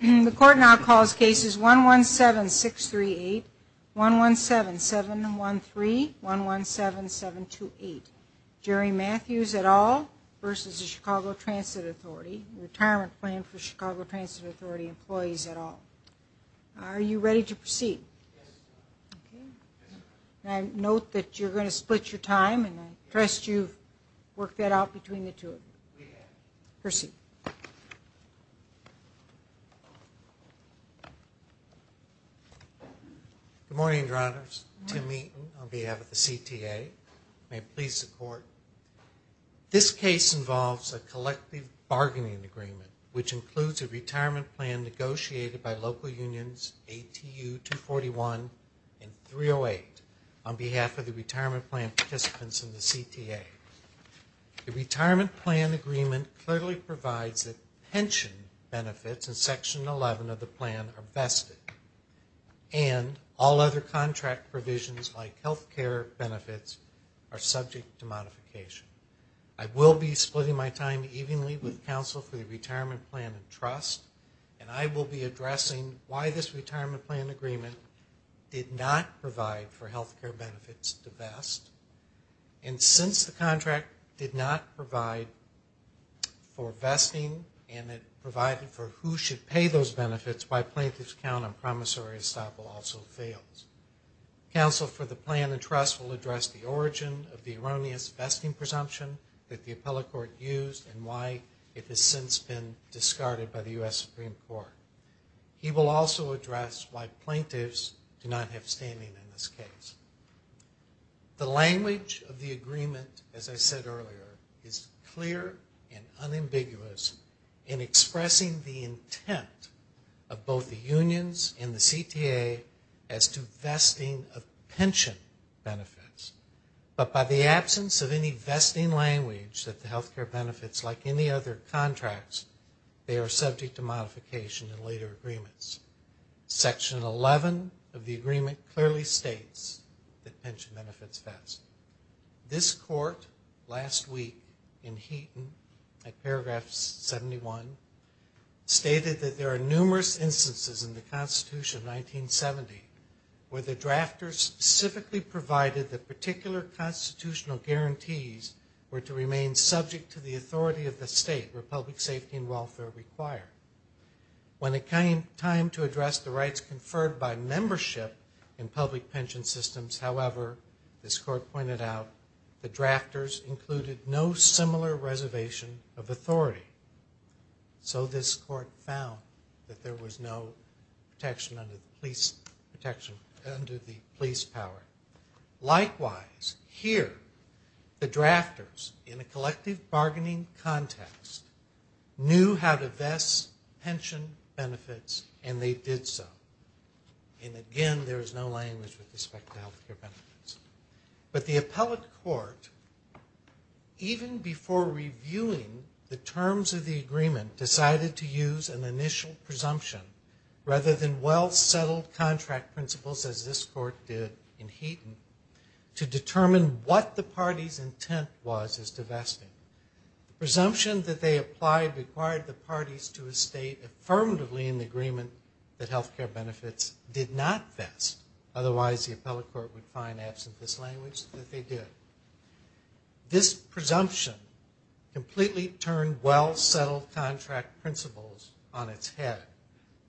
The court now calls cases 117-638, 117-713, 117-728. Jerry Matthews et al. v. Chicago Transit Authority. Retirement plan for Chicago Transit Authority employees et al. Are you ready to proceed? Note that you're going to split your time. I trust you've worked that out between the two of you. We have. Proceed. Good morning, Your Honors. Good morning. Tim Meaton on behalf of the CTA. May it please the Court. This case involves a collective bargaining agreement, which includes a retirement plan negotiated by local unions, ATU 241 and 308, on behalf of the retirement plan participants in the CTA. The retirement plan agreement clearly provides that pension benefits in Section 11 of the plan are vested, and all other contract provisions like health care benefits are subject to modification. I will be splitting my time evenly with counsel for the retirement plan and trust, and I will be addressing why this retirement plan agreement did not provide for health care benefits to vest. And since the contract did not provide for vesting, and it provided for who should pay those benefits, why plaintiffs count on promissory estoppel also fails. Counsel for the plan and trust will address the origin of the erroneous vesting presumption that the appellate court used, and why it has since been discarded by the U.S. Supreme Court. He will also address why plaintiffs do not have standing in this case. The language of the agreement, as I said earlier, is clear and unambiguous in expressing the intent of both the unions and the CTA as to vesting of pension benefits. But by the absence of any vesting language that the health care benefits, like any other contracts, they are subject to modification in later agreements. Section 11 of the agreement clearly states that pension benefits vest. This court last week in Heaton, at paragraph 71, stated that there are numerous instances in the Constitution of 1970 where the drafters civically provided the particular constitutional guarantees were to remain subject to the authority of the state where public safety and welfare were required. When it came time to address the rights conferred by membership in public pension systems, however, this court pointed out, the drafters included no similar reservation of authority. So this court found that there was no protection under the police power. Likewise, here, the drafters, in a collective bargaining context, knew how to vest pension benefits and they did so. And again, there is no language with respect to health care benefits. But the appellate court, even before reviewing the terms of the agreement, decided to use an initial presumption, rather than well-settled contract principles as this court did in Heaton, to determine what the party's intent was as to vesting. The presumption that they applied required the parties to state affirmatively in the agreement that health care benefits did not vest, otherwise the appellate court would find, absent this language, that they did. This presumption completely turned well-settled contract principles on its head.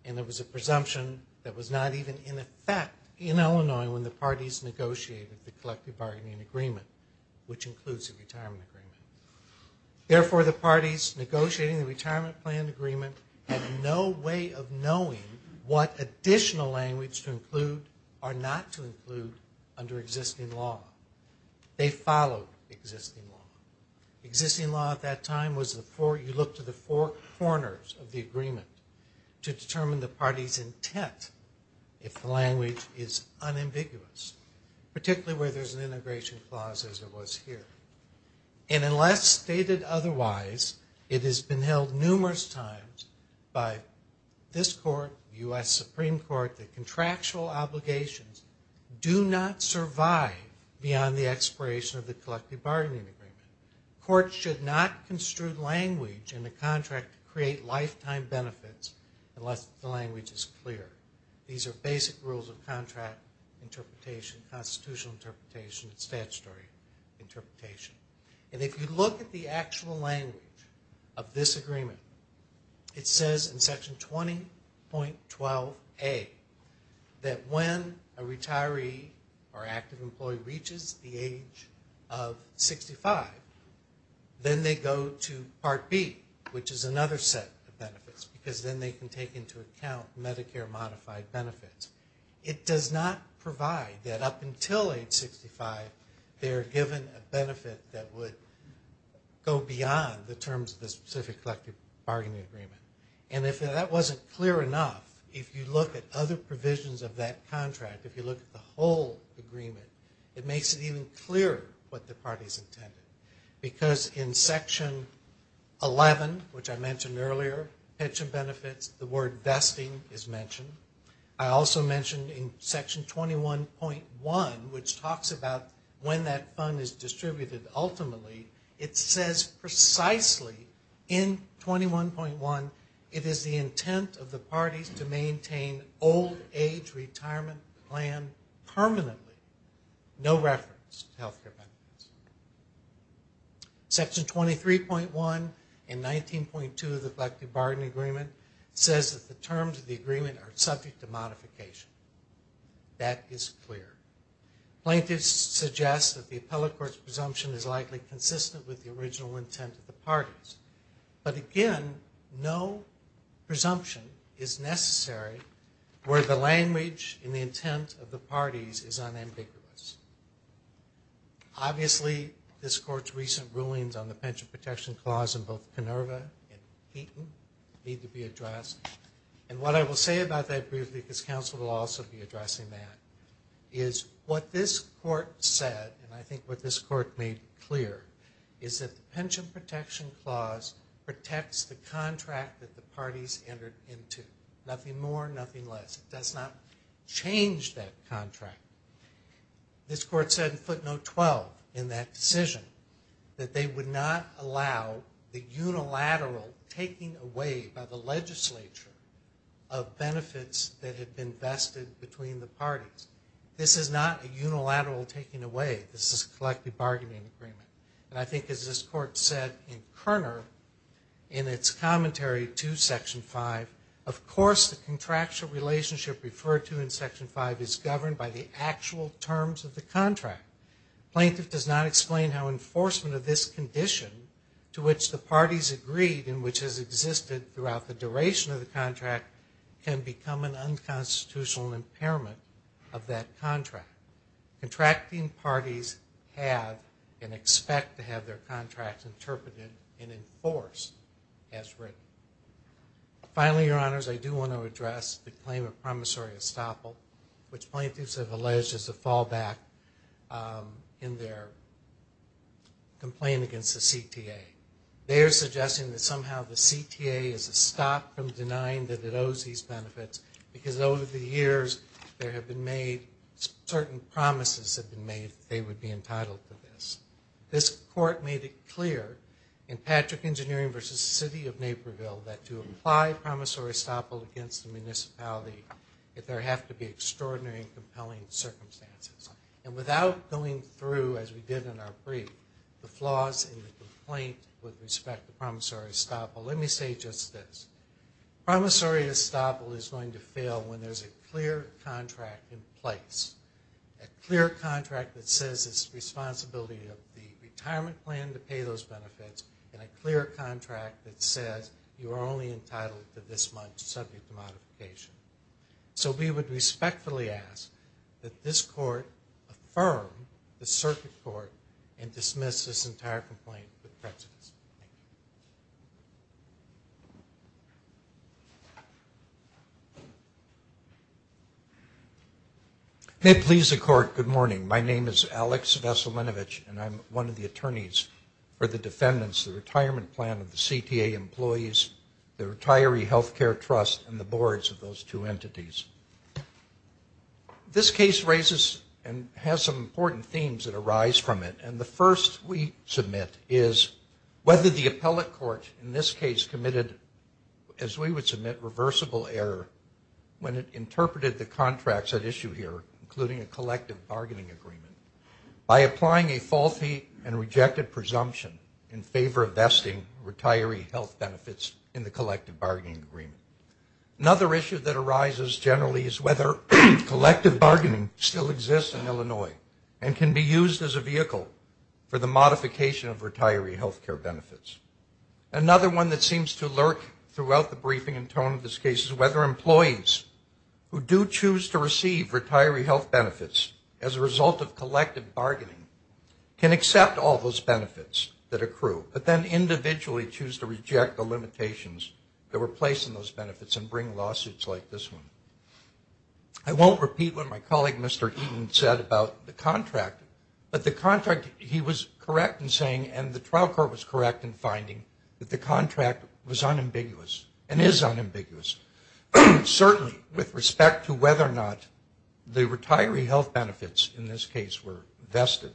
And it was a presumption that was not even in effect in Illinois when the parties negotiated the collective bargaining agreement, which includes the retirement agreement. Therefore, the parties negotiating the retirement plan agreement had no way of knowing what additional language to include or not to include under existing law. They followed existing law. Existing law at that time was the four, you look to the four corners of the agreement to determine the party's intent if the language is unambiguous, particularly where there's an integration clause as it was here. And unless stated otherwise, it has been held numerous times by this court, U.S. Supreme Court, that contractual obligations do not survive beyond the expiration of the collective bargaining agreement. Courts should not construe language in a contract to create lifetime benefits unless the language is clear. These are basic rules of contract interpretation, constitutional interpretation, and statutory interpretation. And if you look at the actual language of this agreement, it says in Section 20.12A that when a retiree or active employee reaches the age of 65, then they go to Part B, which is another set of benefits, because then they can take into account Medicare modified benefits. It does not provide that up until age 65, they're given a benefit that would go beyond the terms of the specific collective bargaining agreement. And if that wasn't clear enough, if you look at other provisions of that contract, if you look at the whole agreement, it makes it even clearer what the party's intended. Because in Section 11, which I mentioned earlier, pension benefits, the word vesting is mentioned. I also mentioned in Section 21.1, which talks about when that fund is distributed ultimately, it says precisely in 21.1, it is the intent of the parties to maintain old age retirement plan permanently, no reference to health care benefits. Section 23.1 and 19.2 of the collective bargaining agreement says that the terms of the agreement are subject to modification. That is clear. Plaintiffs suggest that the appellate court's presumption is likely consistent with the original intent of the parties. But again, no presumption is necessary where the language and the intent of the parties is unambiguous. Obviously, this court's recent rulings on the Pension Protection Clause in both Canova and Heaton need to be addressed. And what I will say about that briefly, because counsel will also be addressing that, is what this court said, and I think what this court made clear, is that the Pension Protection Clause protects the contract that the parties entered into. Nothing more, nothing less. It does not change that contract. This court said in footnote 12 in that decision that they would not allow the unilateral taking away by the legislature of benefits that had been vested between the parties. This is not a unilateral taking away. This is a collective bargaining agreement. And I think as this court said in Kerner in its commentary to Section 5, of course the contractual relationship referred to in Section 5 is governed by the actual terms of the contract. Plaintiff does not explain how enforcement of this condition to which the parties agreed and which has existed throughout the duration of the contract can become an unconstitutional impairment of that contract. Contracting parties have and expect to have their contracts interpreted and enforced as written. Finally, Your Honors, I do want to address the claim of promissory estoppel, which plaintiffs have alleged is a fallback in their complaint against the CTA. They are suggesting that somehow the CTA is a stop from denying that it owes these benefits because over the years there have been made certain promises that have been made that they would be entitled to this. This court made it clear in Patrick Engineering v. City of Naperville that to apply promissory estoppel against the municipality, that there have to be extraordinary and compelling circumstances. And without going through, as we did in our brief, the flaws in the complaint with respect to promissory estoppel, let me say just this. Promissory estoppel is going to fail when there's a clear contract in place, a clear contract that says it's the responsibility of the retirement plan to pay those benefits, and a clear contract that says you are only entitled to this much subject to modification. So we would respectfully ask that this court affirm the circuit court and dismiss this entire complaint with prejudice. Thank you. Alex Veselinovich. May it please the court, good morning. My name is Alex Veselinovich, and I'm one of the attorneys for the defendants, the retirement plan of the CTA employees, the retiree health care trust, and the boards of those two entities. This case raises and has some important themes that arise from it. And the first we submit is whether the appellate court in this case committed, as we would submit, reversible error when it interpreted the contracts at issue here, including a collective bargaining agreement, by applying a faulty and rejected presumption in favor of vesting retiree health benefits in the collective bargaining agreement. Another issue that arises generally is whether collective bargaining still exists in Illinois and can be used as a vehicle for the modification of retiree health care benefits. Another one that seems to lurk throughout the briefing and tone of this case is whether employees who do choose to receive retiree health benefits as a result of collective bargaining can accept all those benefits that accrue, but then individually choose to reject the limitations that were placed in those benefits and bring lawsuits like this one. I won't repeat what my colleague Mr. Eaton said about the contract, but the contract he was correct in saying and the trial court was correct in finding that the contract was unambiguous and is unambiguous. Certainly with respect to whether or not the retiree health benefits in this case were vested,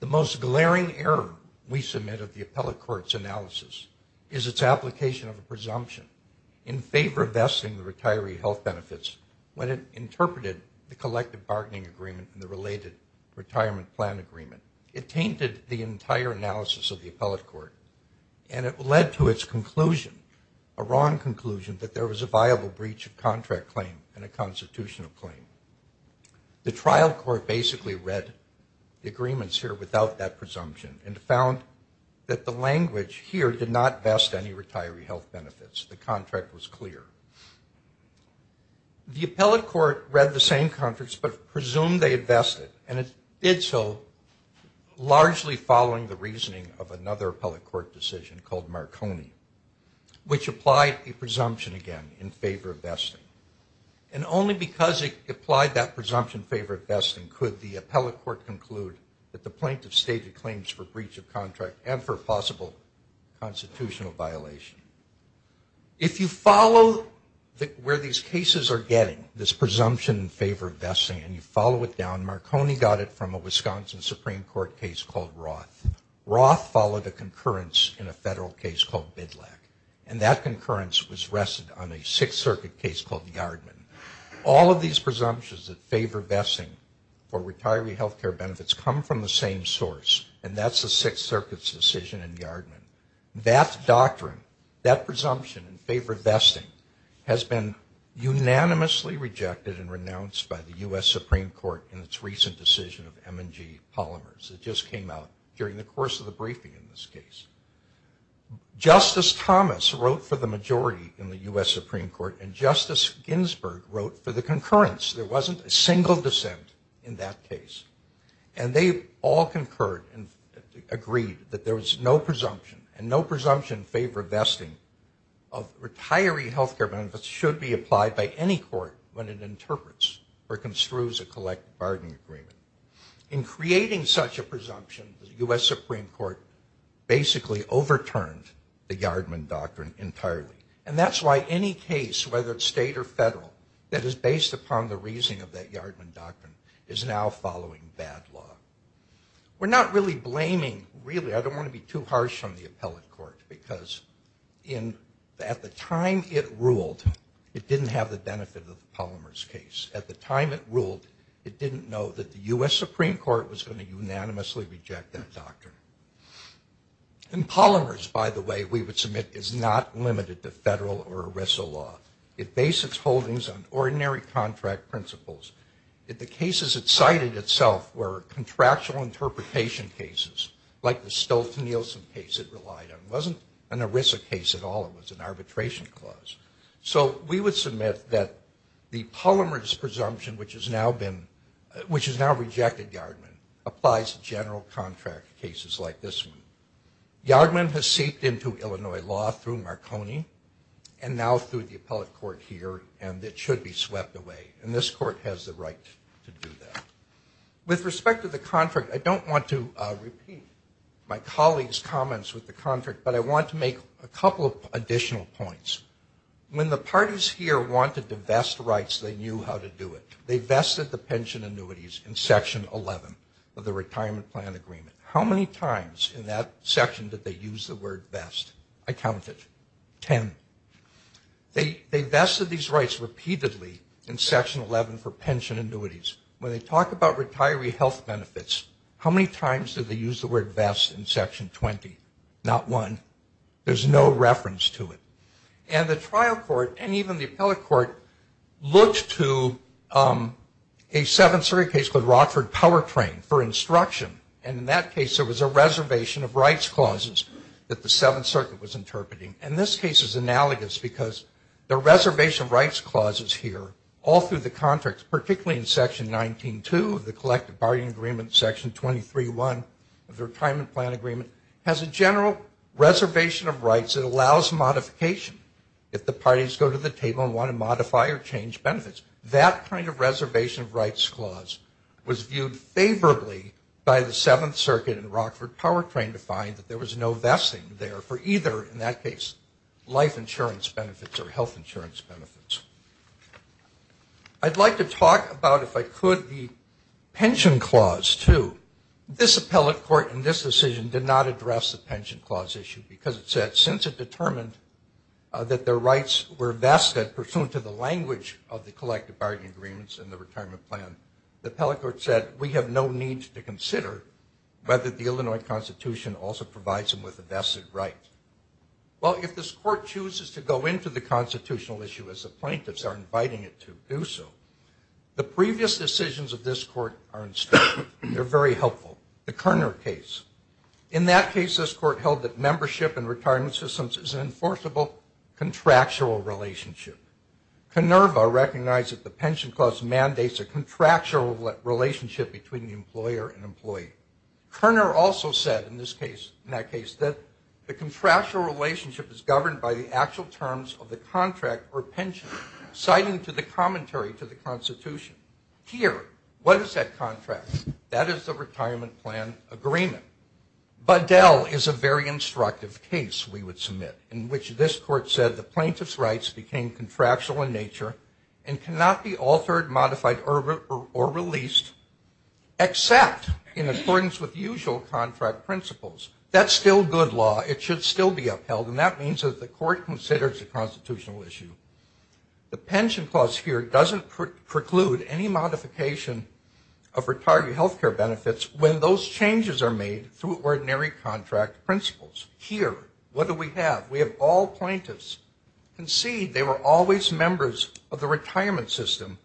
the most glaring error we submit of the appellate court's analysis is its application of a presumption in favor of vesting the retiree health benefits when it interpreted the collective bargaining agreement and the related retirement plan agreement. It tainted the entire analysis of the appellate court, and it led to its conclusion, a wrong conclusion, that there was a viable breach of contract claim and a constitutional claim. The trial court basically read the agreements here without that presumption and found that the language here did not vest any retiree health benefits. The contract was clear. The appellate court read the same contracts but presumed they had vested, and it did so largely following the reasoning of another appellate court decision called Marconi, which applied a presumption again in favor of vesting. And only because it applied that presumption in favor of vesting could the appellate court rule that there was a breach of contract and for possible constitutional violation. If you follow where these cases are getting, this presumption in favor of vesting and you follow it down, Marconi got it from a Wisconsin Supreme Court case called Roth. Roth followed a concurrence in a federal case called Bidlack, and that concurrence was rested on a Sixth Circuit case called Yardman. All of these presumptions that favor vesting for retiree health care benefits come from the same source, and that's the Sixth Circuit's decision in Yardman. That doctrine, that presumption in favor of vesting, has been unanimously rejected and renounced by the U.S. Supreme Court in its recent decision of M&G Polymers. It just came out during the course of the briefing in this case. Justice Thomas wrote for the majority in the U.S. Supreme Court, and Justice Ginsburg wrote for the concurrence. There wasn't a single dissent in that case, and they all concurred and agreed that there was no presumption, and no presumption in favor of vesting of retiree health care benefits should be applied by any court when it interprets or construes a collective bargaining agreement. In creating such a presumption, the U.S. Supreme Court basically overturned the Yardman doctrine entirely, and that's why any case, whether it's state or federal, that is based upon the reasoning of that Yardman doctrine is now following bad law. We're not really blaming, really, I don't want to be too harsh on the appellate court, because at the time it ruled, it didn't have the benefit of the Polymers case. At the time it ruled, it didn't know that the U.S. Supreme Court was going to unanimously reject that doctrine. And Polymers, by the way, we would submit, is not limited to federal or ERISA law. It bases holdings on ordinary contract principles. The cases it cited itself were contractual interpretation cases, like the Stoltz-Nielsen case it relied on. It wasn't an ERISA case at all. It was an arbitration clause. So we would submit that the Polymers presumption, which has now rejected Yardman, applies to general contract cases like this one. Yardman has seeped into Illinois law through Marconi and now through the appellate court here, and it should be swept away. And this court has the right to do that. With respect to the contract, I don't want to repeat my colleagues' comments with the contract, but I want to make a couple of additional points. When the parties here wanted to vest rights, they knew how to do it. They vested the pension annuities in Section 11 of the Retirement Plan Agreement. How many times in that section did they use the word vest? I counted. Ten. They vested these rights repeatedly in Section 11 for pension annuities. When they talk about retiree health benefits, how many times did they use the word vest in Section 20? Not one. There's no reference to it. And the trial court, and even the appellate court, looked to a Seventh Circuit case called Rockford Powertrain for instruction, and in that case there was a reservation of rights clauses that the Seventh Circuit was interpreting. And this case is analogous because the reservation of rights clauses here, all through the contracts, particularly in Section 19-2 of the Collective Partying Agreement, Section 23-1 of the Retirement Plan Agreement, has a general reservation of rights that allows modification if the parties go to the table and want to modify or change benefits. That kind of reservation of rights clause was viewed favorably by the Seventh Circuit for vesting there for either, in that case, life insurance benefits or health insurance benefits. I'd like to talk about, if I could, the pension clause, too. This appellate court in this decision did not address the pension clause issue because it said since it determined that their rights were vested pursuant to the language of the Collective Partying Agreements and the Retirement Plan, the appellate court said we have no need to consider whether the Illinois Constitution also provides them with a vested right. Well, if this court chooses to go into the constitutional issue, as the plaintiffs are inviting it to do so, the previous decisions of this court are instructive. They're very helpful. The Kerner case. In that case, this court held that membership and retirement systems is an enforceable contractual relationship. Kenerva recognized that the pension clause mandates a contractual relationship between the employer and employee. Kerner also said in this case, in that case, that the contractual relationship is governed by the actual terms of the contract or pension, citing to the commentary to the Constitution. Here, what is that contract? That is the Retirement Plan Agreement. Bedell is a very instructive case, we would submit, in which this court said the plaintiff's rights became contractual in nature and cannot be altered, modified, or released, except in accordance with usual contract principles. That's still good law. It should still be upheld, and that means that the court considers the constitutional issue. The pension clause here doesn't preclude any modification of retired health care benefits when those changes are made through ordinary contract principles. Here, what do we have? We have all plaintiffs. Concede they were always members of the retirement system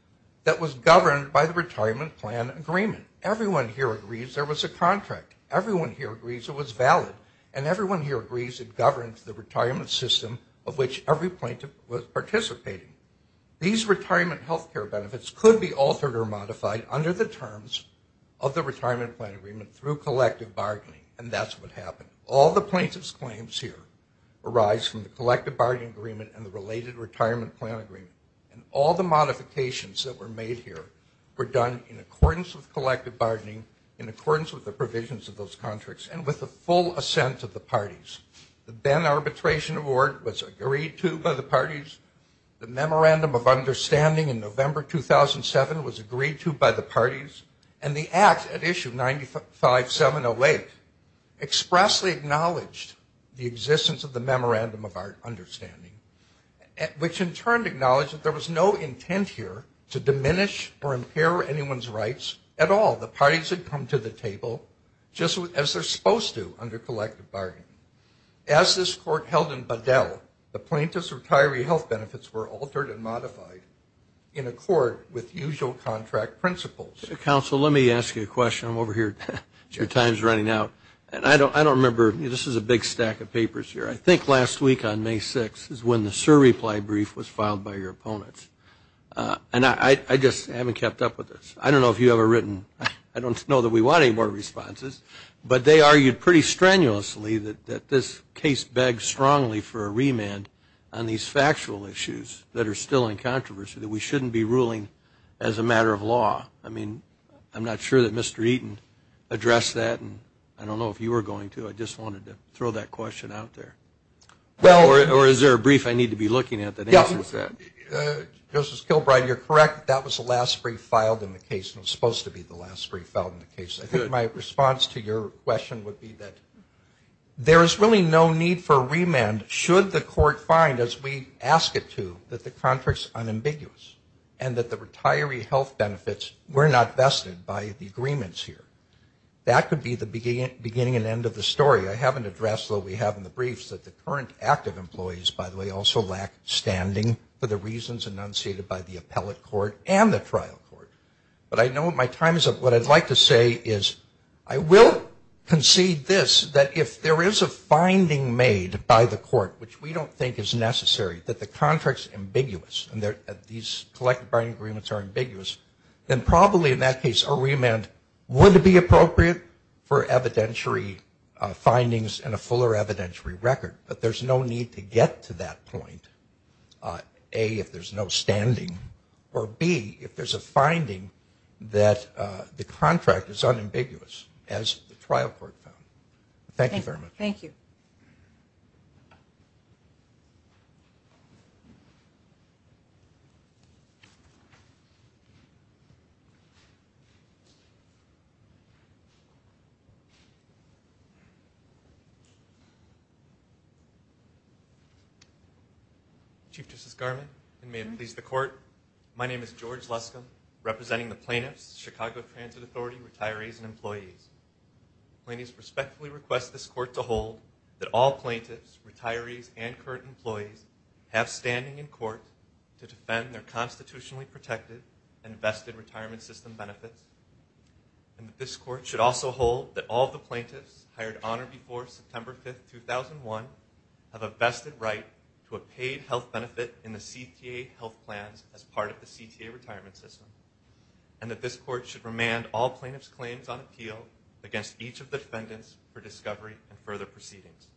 that was governed by the Retirement Plan Agreement. Everyone here agrees there was a contract. Everyone here agrees it was valid, and everyone here agrees it governed the retirement system of which every plaintiff was participating. These retirement health care benefits could be altered or modified under the terms of the Retirement Plan Agreement through collective bargaining, and that's what happened. All the plaintiff's claims here arise from the collective bargaining agreement and the related Retirement Plan Agreement, and all the modifications that were made here were done in accordance with collective bargaining, in accordance with the provisions of those contracts, and with the full assent of the parties. The Benn Arbitration Award was agreed to by the parties. The Memorandum of Understanding in November 2007 was agreed to by the parties, and the act at issue 95708 expressly acknowledged the existence of the Memorandum of Understanding, which in turn acknowledged that there was no intent here to diminish or impair anyone's rights at all. The parties had come to the table just as they're supposed to under collective bargaining. As this court held in Bedell, the plaintiff's retiree health benefits were altered and modified in accord with usual contract principles. Counsel, let me ask you a question. I'm over here. Your time's running out, and I don't remember. This is a big stack of papers here. I think last week on May 6th is when the SIR reply brief was filed by your opponents, and I just haven't kept up with this. I don't know if you've ever written. I don't know that we want any more responses, but they argued pretty strenuously that this case begs strongly for a remand on these factual issues that are still in controversy, that we shouldn't be ruling as a matter of law. I mean, I'm not sure that Mr. Eaton addressed that, and I don't know if you were going to. I just wanted to throw that question out there. Or is there a brief I need to be looking at that answers that? Yeah. Justice Kilbride, you're correct. That was the last brief filed in the case, and it was supposed to be the last brief filed in the case. I think my response to your question would be that there is really no need for and that the retiree health benefits were not vested by the agreements here. That could be the beginning and end of the story. I haven't addressed, though, we have in the briefs that the current active employees, by the way, also lack standing for the reasons enunciated by the appellate court and the trial court. But I know my time is up. What I'd like to say is I will concede this, that if there is a finding made by the court, which we don't think is necessary, that the contract is ambiguous, and these collective bargaining agreements are ambiguous, then probably in that case a remand would be appropriate for evidentiary findings and a fuller evidentiary record. But there's no need to get to that point, A, if there's no standing, or B, if there's a finding that the contract is unambiguous, as the trial court found. Thank you very much. Thank you. Chief Justice Garment, and may it please the court, my name is George Luscombe, representing the plaintiffs, plaintiffs respectfully request this court to hold that all plaintiffs, retirees, and current employees have standing in court to defend their constitutionally protected and vested retirement system benefits, and that this court should also hold that all the plaintiffs hired on or before September 5th, 2001, have a vested right to a paid health benefit in the CTA health plans as part of the CTA retirement system, and that this court should remand all plaintiffs' claims on appeal against each of the defendants for discovery and further proceedings.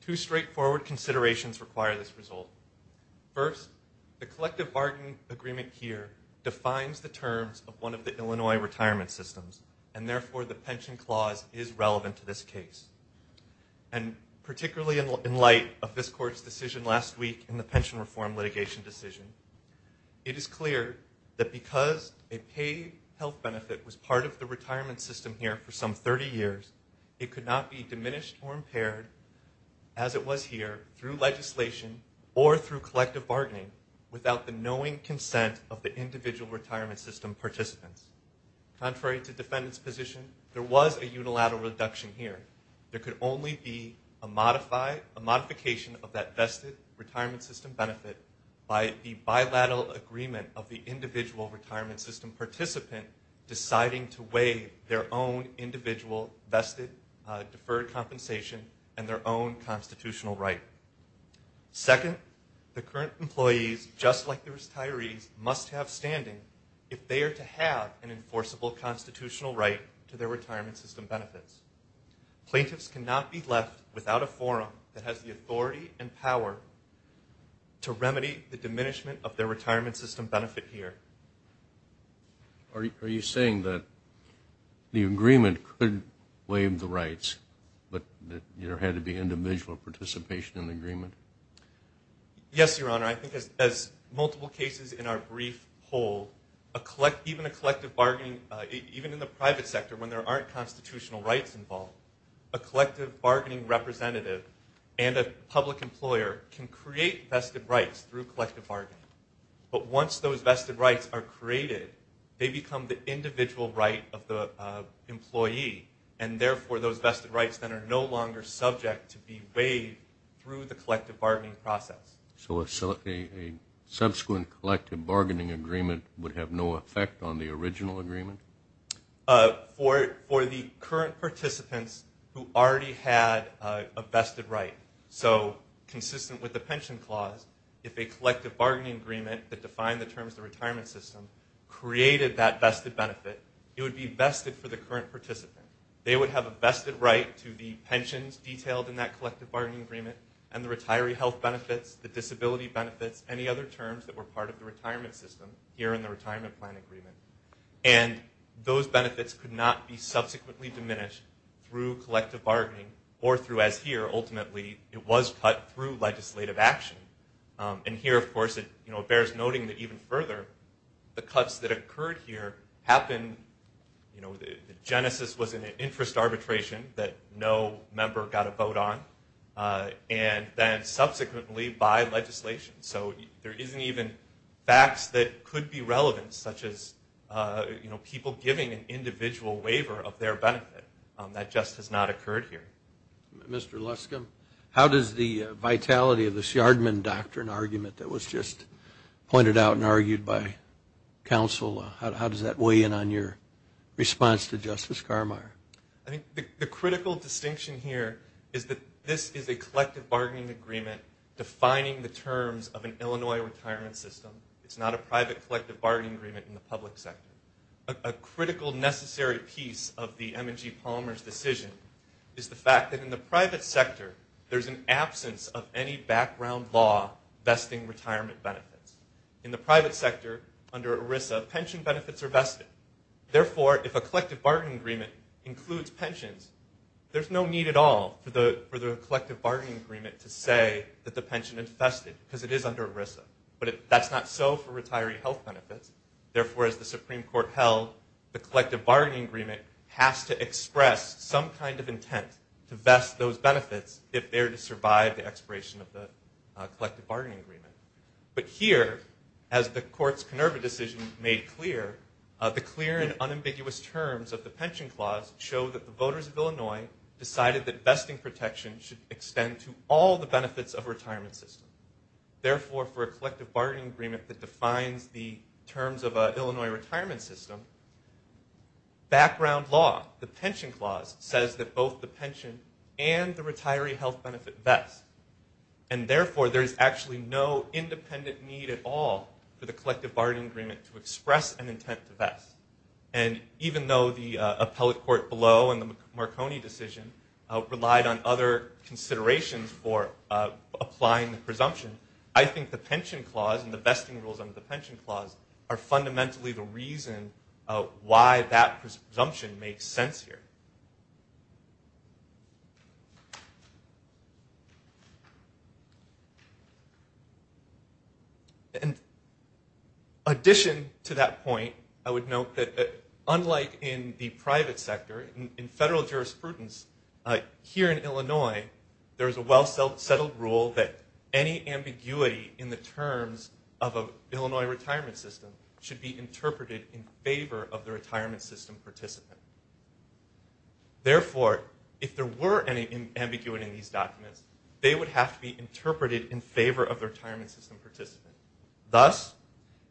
Two straightforward considerations require this result. First, the collective bargaining agreement here defines the terms of one of the Illinois retirement systems, and therefore the pension clause is relevant to this case. And particularly in light of this court's decision last week in the pension reform litigation decision, it is clear that because a paid health benefit was part of the retirement system here for some 30 years, it could not be diminished or impaired as it was here through legislation or through collective bargaining without the knowing consent of the individual retirement system participants. Contrary to defendants' position, there was a unilateral reduction here. There could only be a modification of that vested retirement system benefit by the bilateral agreement of the individual retirement system participant deciding to weigh their own individual vested deferred compensation and their own constitutional right. Second, the current employees, just like the retirees, must have standing if they are to have an enforceable constitutional right to their retirement system benefits. Plaintiffs cannot be left without a forum that has the authority and power to diminishment of their retirement system benefit here. Are you saying that the agreement could waive the rights, but there had to be individual participation in the agreement? Yes, Your Honor. I think as multiple cases in our brief poll, even a collective bargaining, even in the private sector when there aren't constitutional rights involved, a collective bargaining representative and a public employer can create vested rights through collective bargaining. But once those vested rights are created, they become the individual right of the employee, and therefore those vested rights then are no longer subject to be weighed through the collective bargaining process. So a subsequent collective bargaining agreement would have no effect on the original agreement? For the current participants who already had a vested right, so consistent with the pension clause, if a collective bargaining agreement that defined the terms of the retirement system created that vested benefit, it would be vested for the current participant. They would have a vested right to the pensions detailed in that collective bargaining agreement and the retiree health benefits, the disability benefits, any other terms that were part of the retirement system here in the retirement plan agreement. And those benefits could not be subsequently diminished through collective bargaining or through, as here, ultimately, it was cut through legislative action. And here, of course, it bears noting that even further, the cuts that occurred here happened, you know, the genesis was an interest arbitration that no member got a vote on, and then subsequently by legislation. So there isn't even facts that could be relevant, such as people giving an individual waiver of their benefit. That just has not occurred here. Mr. Luscombe, how does the vitality of the Shardman Doctrine argument that was just pointed out and argued by counsel, how does that weigh in on your response to Justice Carmeier? I think the critical distinction here is that this is a collective bargaining agreement defining the terms of an Illinois retirement system. It's not a private collective bargaining agreement in the public sector. A critical necessary piece of the M&G Palmer's decision is the fact that in the private sector, there's an absence of any background law vesting retirement benefits. In the private sector, under ERISA, pension benefits are vested. Therefore, if a collective bargaining agreement includes pensions, there's no need at all for the collective bargaining agreement to say that the pension is vested, because it is under ERISA. But that's not so for retiree health benefits. Therefore, as the Supreme Court held, the collective bargaining agreement has to express some kind of intent to vest those benefits if they're to survive the expiration of the collective bargaining agreement. But here, as the court's Kenurba decision made clear, the clear and unambiguous terms of the pension clause show that the voters of Illinois decided that vesting protection should extend to all the benefits of a retirement system. Therefore, for a collective bargaining agreement that defines the terms of an Illinois retirement system, background law, the pension clause, says that both the pension and the retiree health benefit vest. And therefore, there's actually no independent need at all for the collective bargaining agreement to express an intent to vest. And even though the appellate court below in the Marconi decision relied on other considerations for applying the presumption, I think the pension clause and the vesting rules under the pension clause are fundamentally the reason why that presumption makes sense here. In addition to that point, I would note that unlike in the private sector, in federal jurisprudence, here in Illinois, there is a well-settled rule that any ambiguity in the terms of an Illinois retirement system should be interpreted in favor of the retirement system participant. Therefore, if there were any ambiguity in these documents, they would have to be interpreted in favor of the retirement system participant. Thus,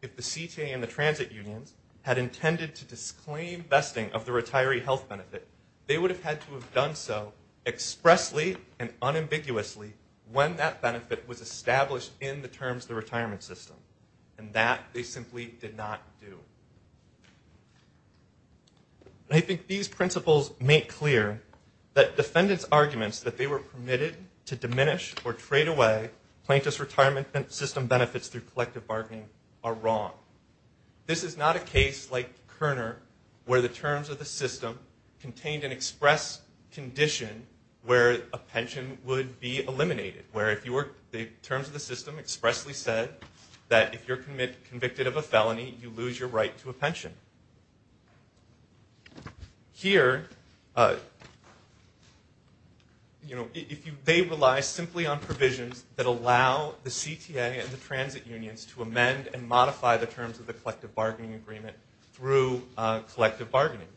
if the CTA and the transit unions had intended to disclaim vesting of the retiree health benefit, they would have had to have done so expressly and unambiguously when that benefit was established in the terms of the retirement system. And that they simply did not do. I think these principles make clear that defendants' arguments that they were permitted to diminish or trade away plaintiff's retirement system benefits through collective bargaining are wrong. This is not a case like Kerner where the terms of the system contained an express condition where a pension would be eliminated, where the terms of the system expressly said that if you're convicted of a felony, you lose your right to a pension. Here, they rely simply on provisions that allow the CTA and the transit unions to amend the terms of the collective bargaining agreement through collective bargaining.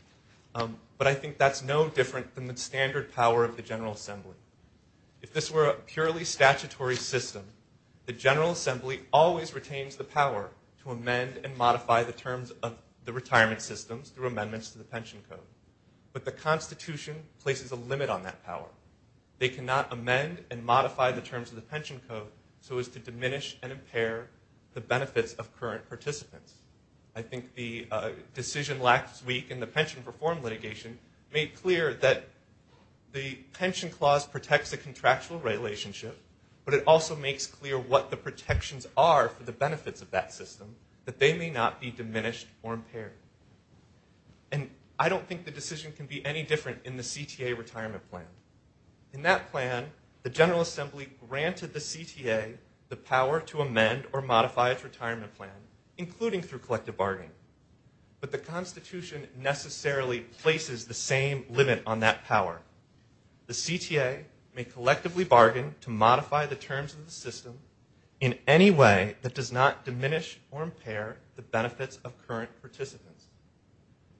But I think that's no different than the standard power of the General Assembly. If this were a purely statutory system, the General Assembly always retains the power to amend and modify the terms of the retirement systems through amendments to the pension code. But the Constitution places a limit on that power. They cannot amend and modify the terms of the pension code so as to I think the decision last week in the pension reform litigation made clear that the pension clause protects the contractual relationship, but it also makes clear what the protections are for the benefits of that system, that they may not be diminished or impaired. And I don't think the decision can be any different in the CTA retirement plan. In that plan, the General Assembly granted the CTA the power to amend or modify the terms of the system, including through collective bargaining. But the Constitution necessarily places the same limit on that power. The CTA may collectively bargain to modify the terms of the system in any way that does not diminish or impair the benefits of current participants.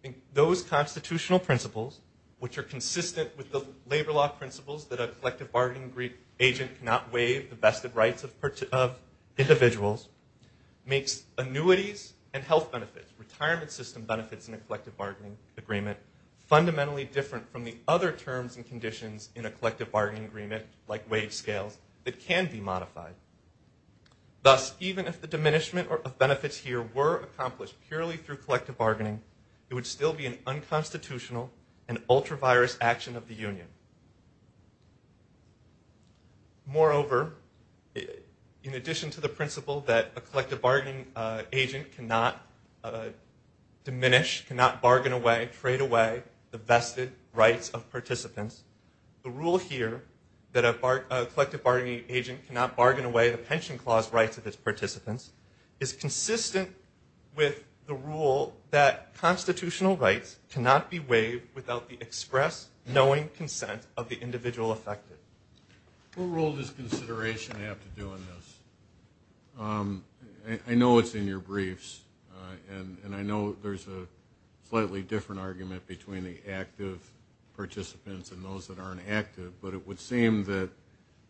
I think those constitutional principles, which are consistent with the labor law principles that a collective bargaining agreement agent cannot waive the vested rights of individuals, makes annuities and health benefits, retirement system benefits in a collective bargaining agreement, fundamentally different from the other terms and conditions in a collective bargaining agreement, like wage scales, that can be modified. Thus, even if the diminishment of benefits here were accomplished purely through collective bargaining, it would still be an unconstitutional and ultra-virus action of the union. Moreover, in addition to the principle that a collective bargaining agent cannot diminish, cannot bargain away, trade away the vested rights of participants, the rule here that a collective bargaining agent cannot bargain away the pension clause rights of its participants, knowing consent of the individual affected. What role does consideration have to do in this? I know it's in your briefs, and I know there's a slightly different argument between the active participants and those that aren't active, but it would seem that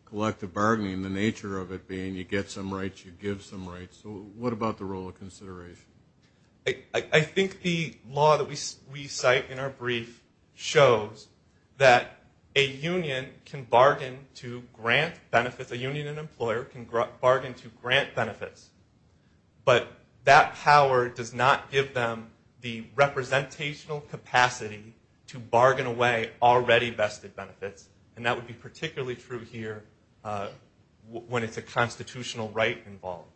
collective bargaining, the nature of it being you get some rights, you give some rights. So what about the role of consideration? I think the law that we cite in our brief shows that a union can bargain to grant benefits, a union and employer can bargain to grant benefits, but that power does not give them the representational capacity to bargain away already vested benefits, and that would be particularly true here when it's a constitutional right involved.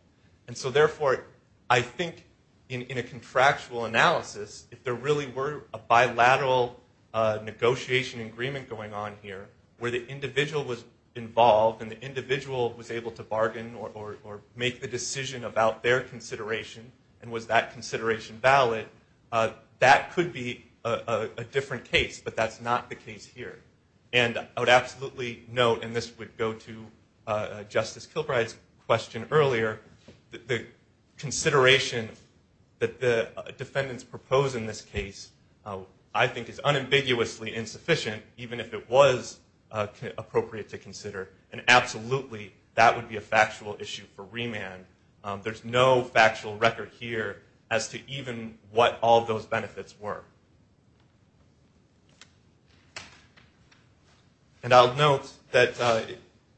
And so therefore, I think in a contractual analysis, if there really were a bilateral negotiation agreement going on here where the individual was involved and the individual was able to bargain or make the decision about their consideration, and was that consideration valid, that could be a different case, but that's not the case here. And I would absolutely note, and this would go to Justice Kilbride's question earlier, the consideration that the defendants propose in this case I think is unambiguously insufficient, even if it was appropriate to consider, and absolutely that would be a factual issue for remand. There's no factual record here as to even what all those benefits were. And I'll note that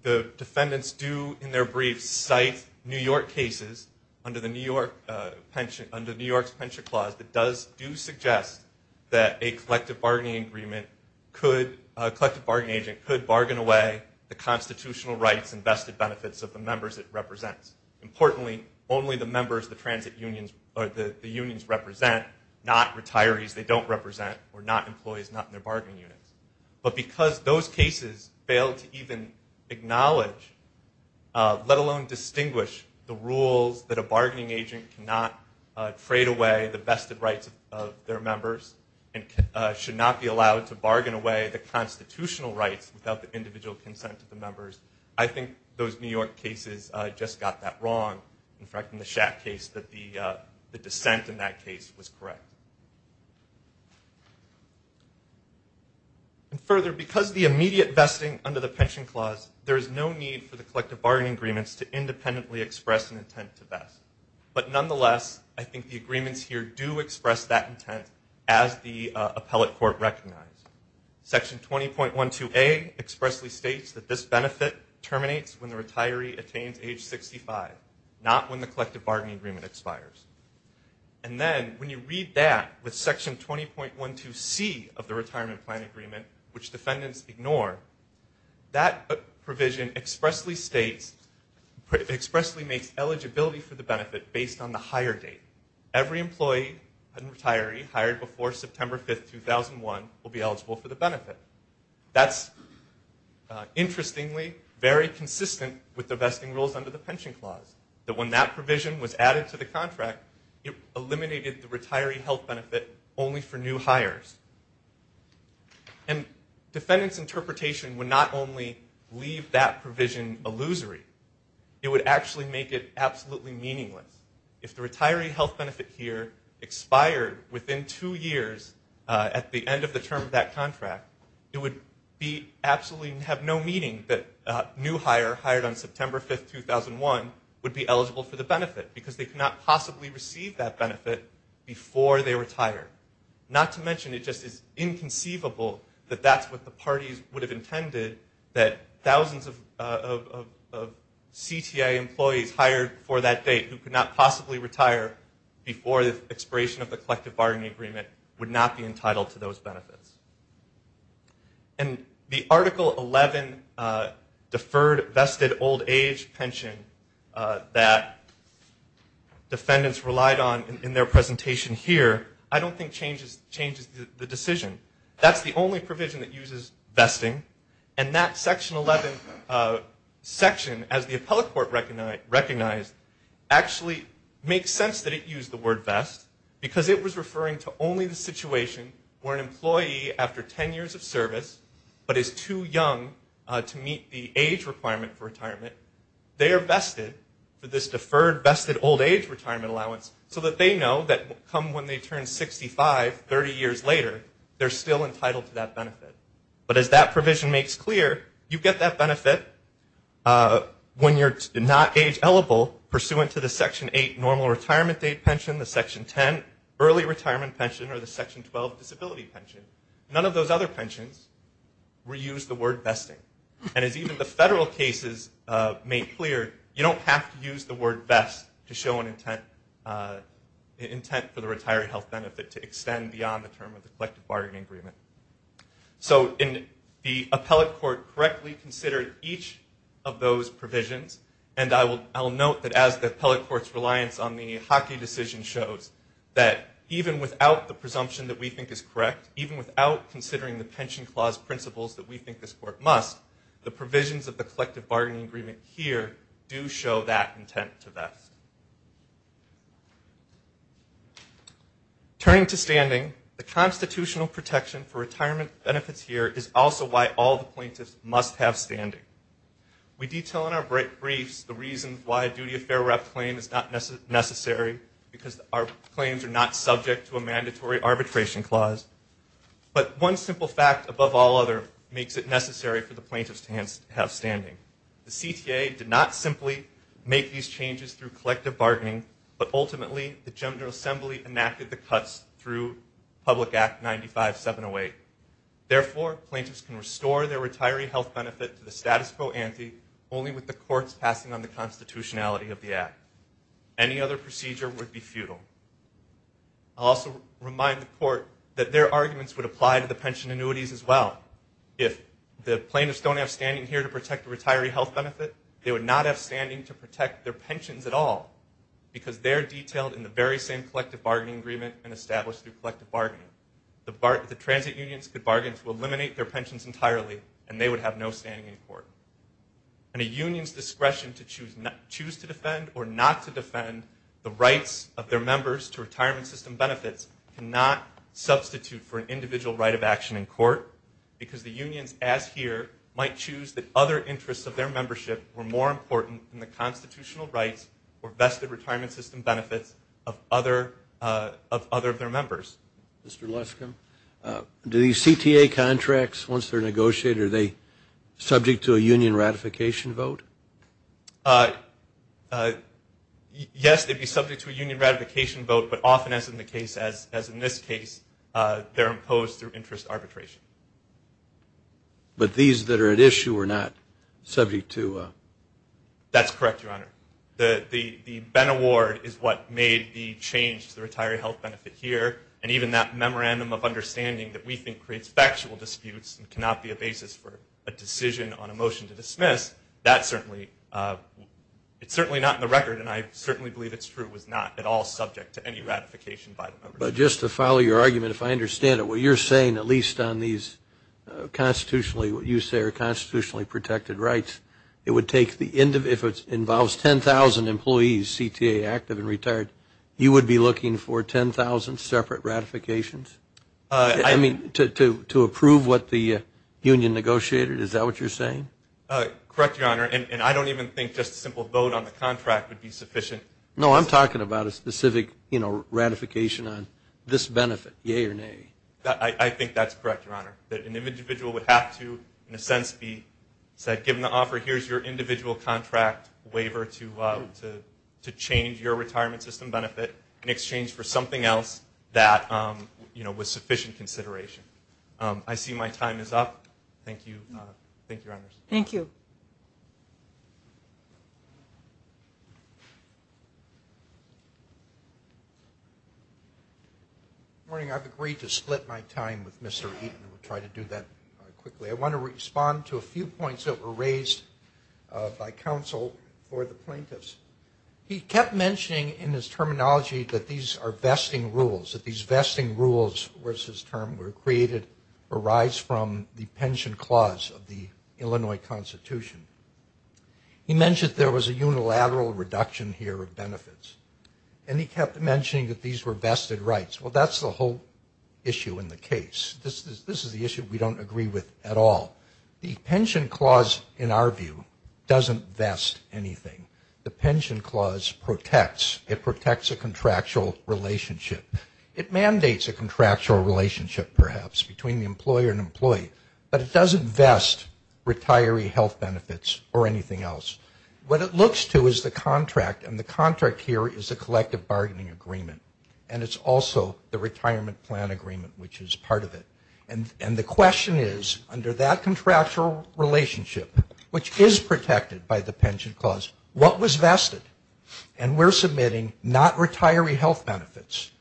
the defendants do in their brief cite New York City court cases under New York's pension clause that do suggest that a collective bargaining agent could bargain away the constitutional rights and vested benefits of the members it represents. Importantly, only the members the unions represent, not retirees they don't represent or not employees not in their bargaining units, but because those cases fail to even acknowledge, let alone distinguish the rules that a bargaining agent cannot trade away the vested rights of their members, and should not be allowed to bargain away the constitutional rights without the individual consent of the members, I think those New York cases just got that wrong. In fact, in the Shack case, the dissent in that case was correct. And further, because the immediate vesting under the pension clause, there is no need for the collective bargaining agreements to independently express an intent to vest. But nonetheless, I think the agreements here do express that intent as the appellate court recognized. Section 20.12A expressly states that this benefit terminates when the retiree attains age 65, not when the collective bargaining agreement expires. And then when you read that with Section 20.12C of the retirement plan agreement, which defendants ignore, that provision expressly states, expressly makes eligibility for the benefit based on the hire date. Every employee and retiree hired before September 5, 2001 will be eligible for the benefit. That's interestingly very consistent with the vesting rules under the pension clause, that when that provision was added to the contract, it eliminated the retiree health benefit only for new hires. And defendants' interpretation would not only leave that provision illusory, it would actually make it absolutely meaningless. If the retiree health benefit here expired within two years at the end of the term of that contract, it would be absolutely, have no meaning that a new hire hired on September 5, 2001 would be eligible for the benefit because they could not possibly receive that benefit before they retire. Not to mention it just is inconceivable that that's what the parties would have intended, that thousands of CTA employees hired before that date who could not possibly retire before the expiration of the collective bargaining agreement would not be entitled to those benefits. And the Article 11 deferred vested old age pension that defendants relied on in their presentation here, I don't think changes the decision. That's the only provision that uses vesting. And that Section 11 section, as the appellate court recognized, actually makes sense that it used the word vest because it was referring to only the situation where an employee, after 10 years of service, but is too young to meet the age requirement for retirement, they are vested for this deferred vested old age retirement allowance so that they know that come when they turn 65, 30 years later, they're still entitled to that benefit. But as that provision makes clear, you get that benefit when you're not age eligible pursuant to the Section 8 normal retirement date pension, the Section 10 early retirement pension, or the Section 12 disability pension. None of those other pensions reuse the word vesting. And as even the federal cases make clear, you don't have to use the word vest to show an intent for the retired health benefit to extend beyond the term of the collective bargaining agreement. So the appellate court correctly considered each of those provisions, and I'll note that as the appellate court's reliance on the Hockey decision shows, that even without the presumption that we think is correct, even without considering the pension clause principles that we think this do show that intent to vest. Turning to standing, the constitutional protection for retirement benefits here is also why all the plaintiffs must have standing. We detail in our briefs the reasons why a duty of fair rep claim is not necessary because our claims are not subject to a mandatory arbitration clause, but one simple fact above all other makes it necessary for the plaintiffs to have standing. The CTA did not simply make these changes through collective bargaining, but ultimately the General Assembly enacted the cuts through Public Act 95708. Therefore, plaintiffs can restore their retiree health benefit to the status quo ante only with the courts passing on the constitutionality of the act. Any other procedure would be futile. I'll also remind the court that their arguments would apply to the pension annuities as well. If the plaintiffs don't have standing here to protect the retiree health benefit, they would not have standing to protect their pensions at all because they're detailed in the very same collective bargaining agreement and established through collective bargaining. The transit unions could bargain to eliminate their pensions entirely, and they would have no standing in court. And a union's discretion to choose to defend or not to defend the rights of their members to retirement system benefits cannot substitute for an arbitration, because the unions, as here, might choose that other interests of their membership were more important than the constitutional rights or vested retirement system benefits of other of their members. Mr. Leskum, do these CTA contracts, once they're negotiated, are they subject to a union ratification vote? Yes, they'd be subject to a union ratification vote, but often, as in the case, as in this case, they're imposed through interest arbitration. But these that are at issue are not subject to a? That's correct, Your Honor. The Benn Award is what made the change to the retiree health benefit here, and even that memorandum of understanding that we think creates factual disputes and cannot be a basis for a decision on a motion to dismiss, that certainly, it's certainly not in the record, and I certainly believe it's true, was not at all subject to any ratification by the members. But just to follow your argument, if I understand it, what you're saying, at least on these constitutionally, what you say are constitutionally protected rights, it would take the end of, if it involves 10,000 employees, CTA, active and retired, you would be looking for 10,000 separate ratifications? I mean, to approve what the union negotiated, is that what you're saying? Correct, Your Honor, and I don't even think just a simple vote on the contract would be sufficient. No, I'm talking about a specific ratification on this benefit, yay or nay. I think that's correct, Your Honor, that an individual would have to, in a sense, be said, given the offer, here's your individual contract waiver to change your retirement system benefit in exchange for something else that was sufficient consideration. I see my time is up. Thank you. Thank you, Your Honors. Thank you. Good morning. I've agreed to split my time with Mr. Eaton. We'll try to do that quickly. I want to respond to a few points that were raised by counsel for the plaintiffs. He kept mentioning in his terminology that these are vesting rules, that these vesting rules was his term, arise from the pension clause of the Illinois Constitution. He mentioned there was a unilateral reduction here of benefits, and he kept mentioning that these were vested rights. Well, that's the whole issue in the case. This is the issue we don't agree with at all. The pension clause, in our view, doesn't vest anything. The pension clause protects. It protects a contractual relationship. It mandates a contractual relationship, perhaps, between the employer and employee, but it doesn't vest retiree health benefits or anything else. What it looks to is the contract, and the contract here is a collective bargaining agreement, and it's also the retirement plan agreement, which is part of it. And the question is, under that contractual relationship, which is protected by the pension clause, what was vested? And we're submitting not retiree health benefits,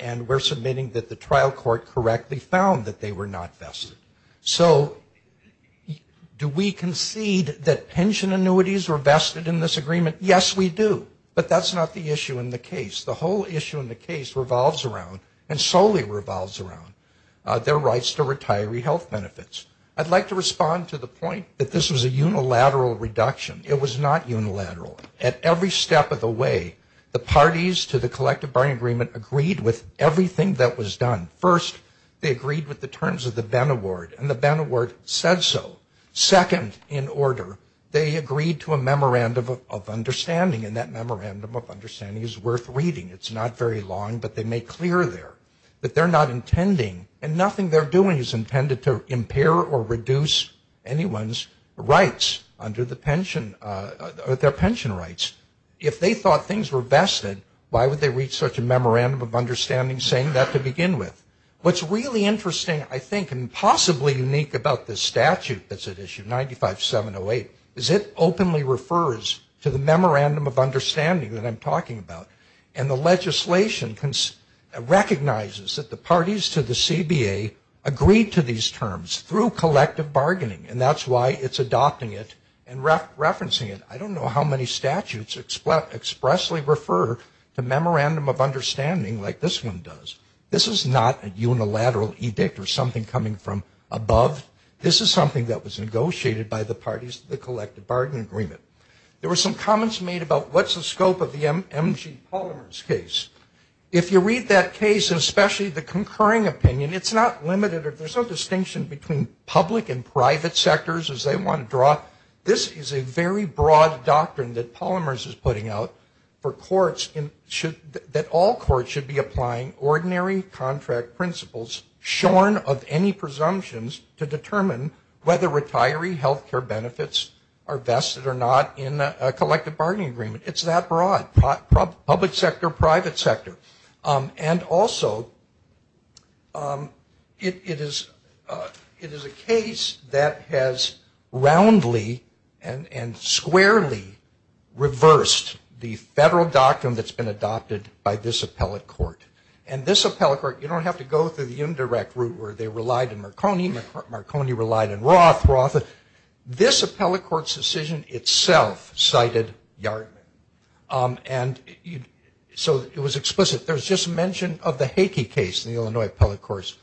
and we're submitting that the trial court correctly found that they were not vested. So do we concede that pension annuities were vested in this agreement? Yes, we do, but that's not the issue in the case. The whole issue in the case revolves around, and solely revolves around their rights to retiree health benefits. I'd like to respond to the point that this was a unilateral reduction. It was not unilateral. At every step of the way, the parties to the collective bargaining agreement agreed with everything that was done. First, they agreed with the terms of the Benn Award, and the Benn Award said so. Second, in order, they agreed to a memorandum of understanding, and that memorandum of understanding is worth reading. It's not very long, but they make clear there that they're not intending, and nothing they're doing is intended to impair or reduce anyone's rights under their pension rights. If they thought things were vested, why would they read such a memorandum of understanding saying that to begin with? What's really interesting, I think, and possibly unique about this statute that's at issue, 95708, is it openly refers to the memorandum of understanding that I'm talking about. And the legislation recognizes that the parties to the CBA agreed to these terms through collective bargaining, and that's why it's adopting it and referencing it. I don't know how many statutes expressly refer to memorandum of understanding like this one does. This is not a unilateral edict or something coming from above. This is something that was negotiated by the parties to the collective bargaining agreement. There were some comments made about what's the scope of the M.G. Palmer's case. If you read that case, especially the concurring opinion, it's not limited or there's no distinction between public and private sectors as they want to draw. This is a very broad doctrine that Palmers is putting out for courts that all courts should be applying ordinary contract principles shorn of any presumptions to determine whether retiree health care benefits are vested or not in a collective bargaining agreement. It's that broad, public sector, private sector. And also, it is a case that has roundly and squarely reversed the federal doctrine that's been adopted by this appellate court. And this appellate court, you don't have to go through the indirect route where they relied in Marconi. Marconi relied in Roth. This appellate court's decision itself cited Yardley. And so it was explicit. There was just mention of the Hakey case in the Illinois appellate courts.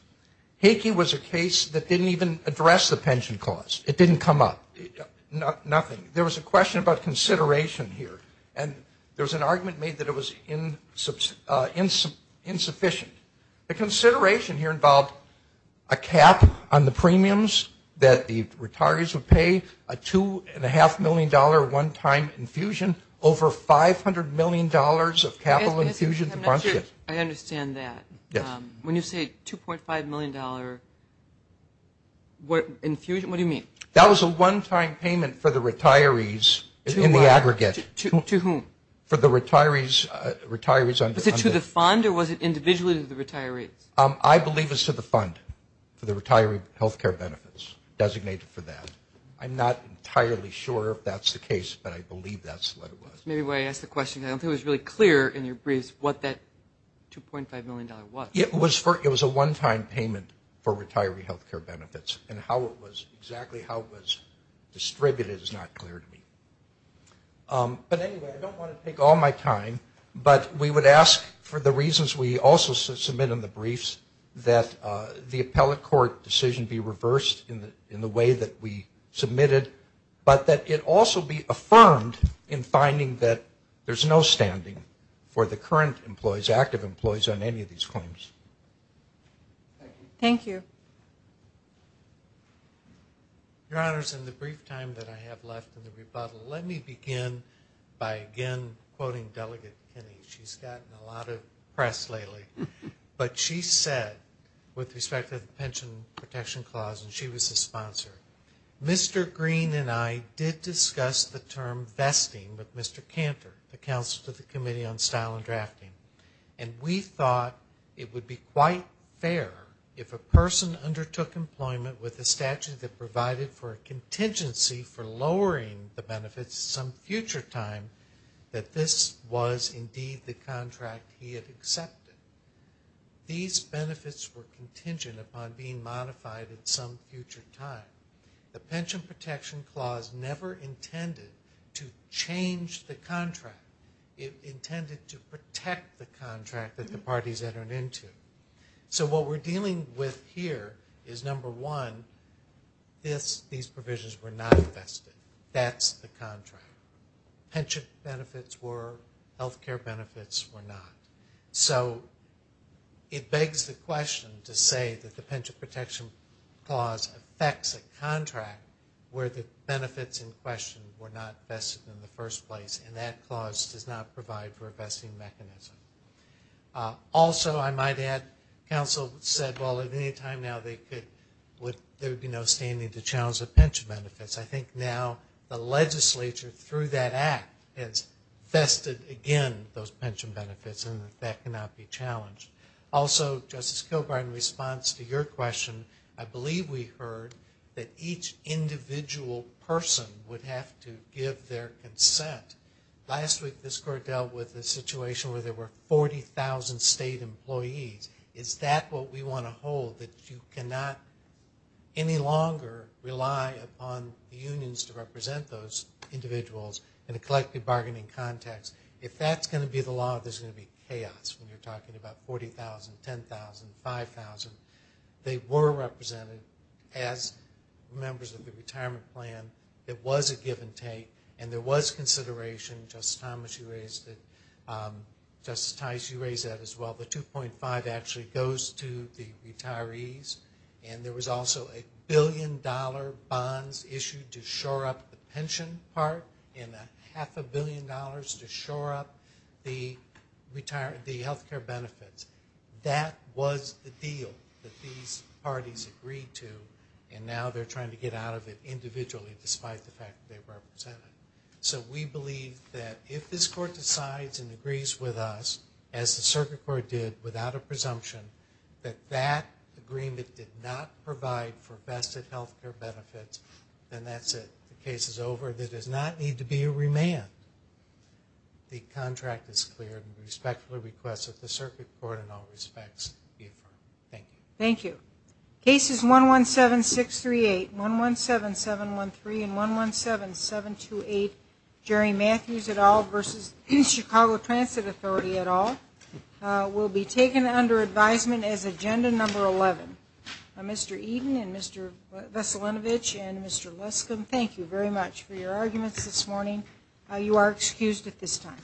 Hakey was a case that didn't even address the pension clause. It didn't come up. Nothing. There was a question about consideration here. And there was an argument made that it was insufficient. The consideration here involved a cap on the premiums that the retirees would pay, a $2.5 million one-time infusion, over $500 million of capital infusion. I understand that. When you say $2.5 million infusion, what do you mean? That was a one-time payment for the retirees in the aggregate. To whom? For the retirees. Was it to the fund or was it individually to the retirees? I believe it's to the fund for the retiree health care benefits designated for that. I'm not entirely sure if that's the case, but I believe that's what it was. Maybe when I asked the question, I don't think it was really clear in your briefs what that $2.5 million was. It was a one-time payment for retiree health care benefits, and exactly how it was distributed is not clear to me. But anyway, I don't want to take all my time, but we would ask for the reasons we also submit in the briefs that the appellate court decision be reversed in the way that we submitted, but that it also be affirmed in finding that there's no standing for the current employees, active employees on any of these claims. Thank you. Your Honors, in the brief time that I have left in the rebuttal, let me begin by again quoting Delegate Kinney. She's gotten a lot of press lately. But she said, with respect to the Pension Protection Clause, and she was the sponsor, Mr. Green and I did discuss the term vesting with Mr. Cantor, the Counsel to the Committee on Style and Drafting, and we thought it would be quite fair if a person undertook employment with a statute that provided for a contingency for lowering the benefits some future time, that this was indeed the contract he had accepted. These benefits were contingent upon being modified at some future time. The Pension Protection Clause never intended to change the contract. It intended to protect the contract that the parties entered into. So what we're dealing with here is, number one, these provisions were not vested. That's the contract. Pension benefits were, health care benefits were not. So it begs the question to say that the Pension Protection Clause affects a contract where the benefits in question were not vested in the first place, and that clause does not provide for a vesting mechanism. Also, I might add, Counsel said, well, at any time now, there would be no standing to challenge the pension benefits. I think now the legislature, through that act, has vested again those pension benefits, and that cannot be challenged. Also, Justice Kilgore, in response to your question, I believe we heard that each individual person would have to give their consent. Last week this Court dealt with a situation where there were 40,000 state employees. Is that what we want to hold, that you cannot any longer rely upon the unions to represent those individuals in a collective bargaining context? If that's going to be the law, there's going to be chaos when you're talking about 40,000, 10,000, 5,000. They were represented as members of the retirement plan. It was a give and take, and there was consideration. Justice Thomas, you raised it. Justice Tice, you raised that as well. The 2.5 actually goes to the retirees, and there was also a billion-dollar bonds issued to shore up the pension part and a half a billion dollars to shore up the health care benefits. That was the deal that these parties agreed to, and now they're trying to get out of it individually despite the fact that they represent it. So we believe that if this Court decides and agrees with us, as the Circuit Court did without a presumption, that that agreement did not provide for vested health care benefits, then that's it. The case is over. There does not need to be a remand. The contract is cleared, and we respectfully request that the Circuit Court in all respects be affirmed. Thank you. Thank you. Cases 117638, 117713, and 117728, Jerry Matthews et al. v. Chicago Transit Authority et al., will be taken under advisement as Agenda Number 11. Mr. Eden and Mr. Veselinovich and Mr. Leskum, thank you very much for your arguments this morning. You are excused at this time.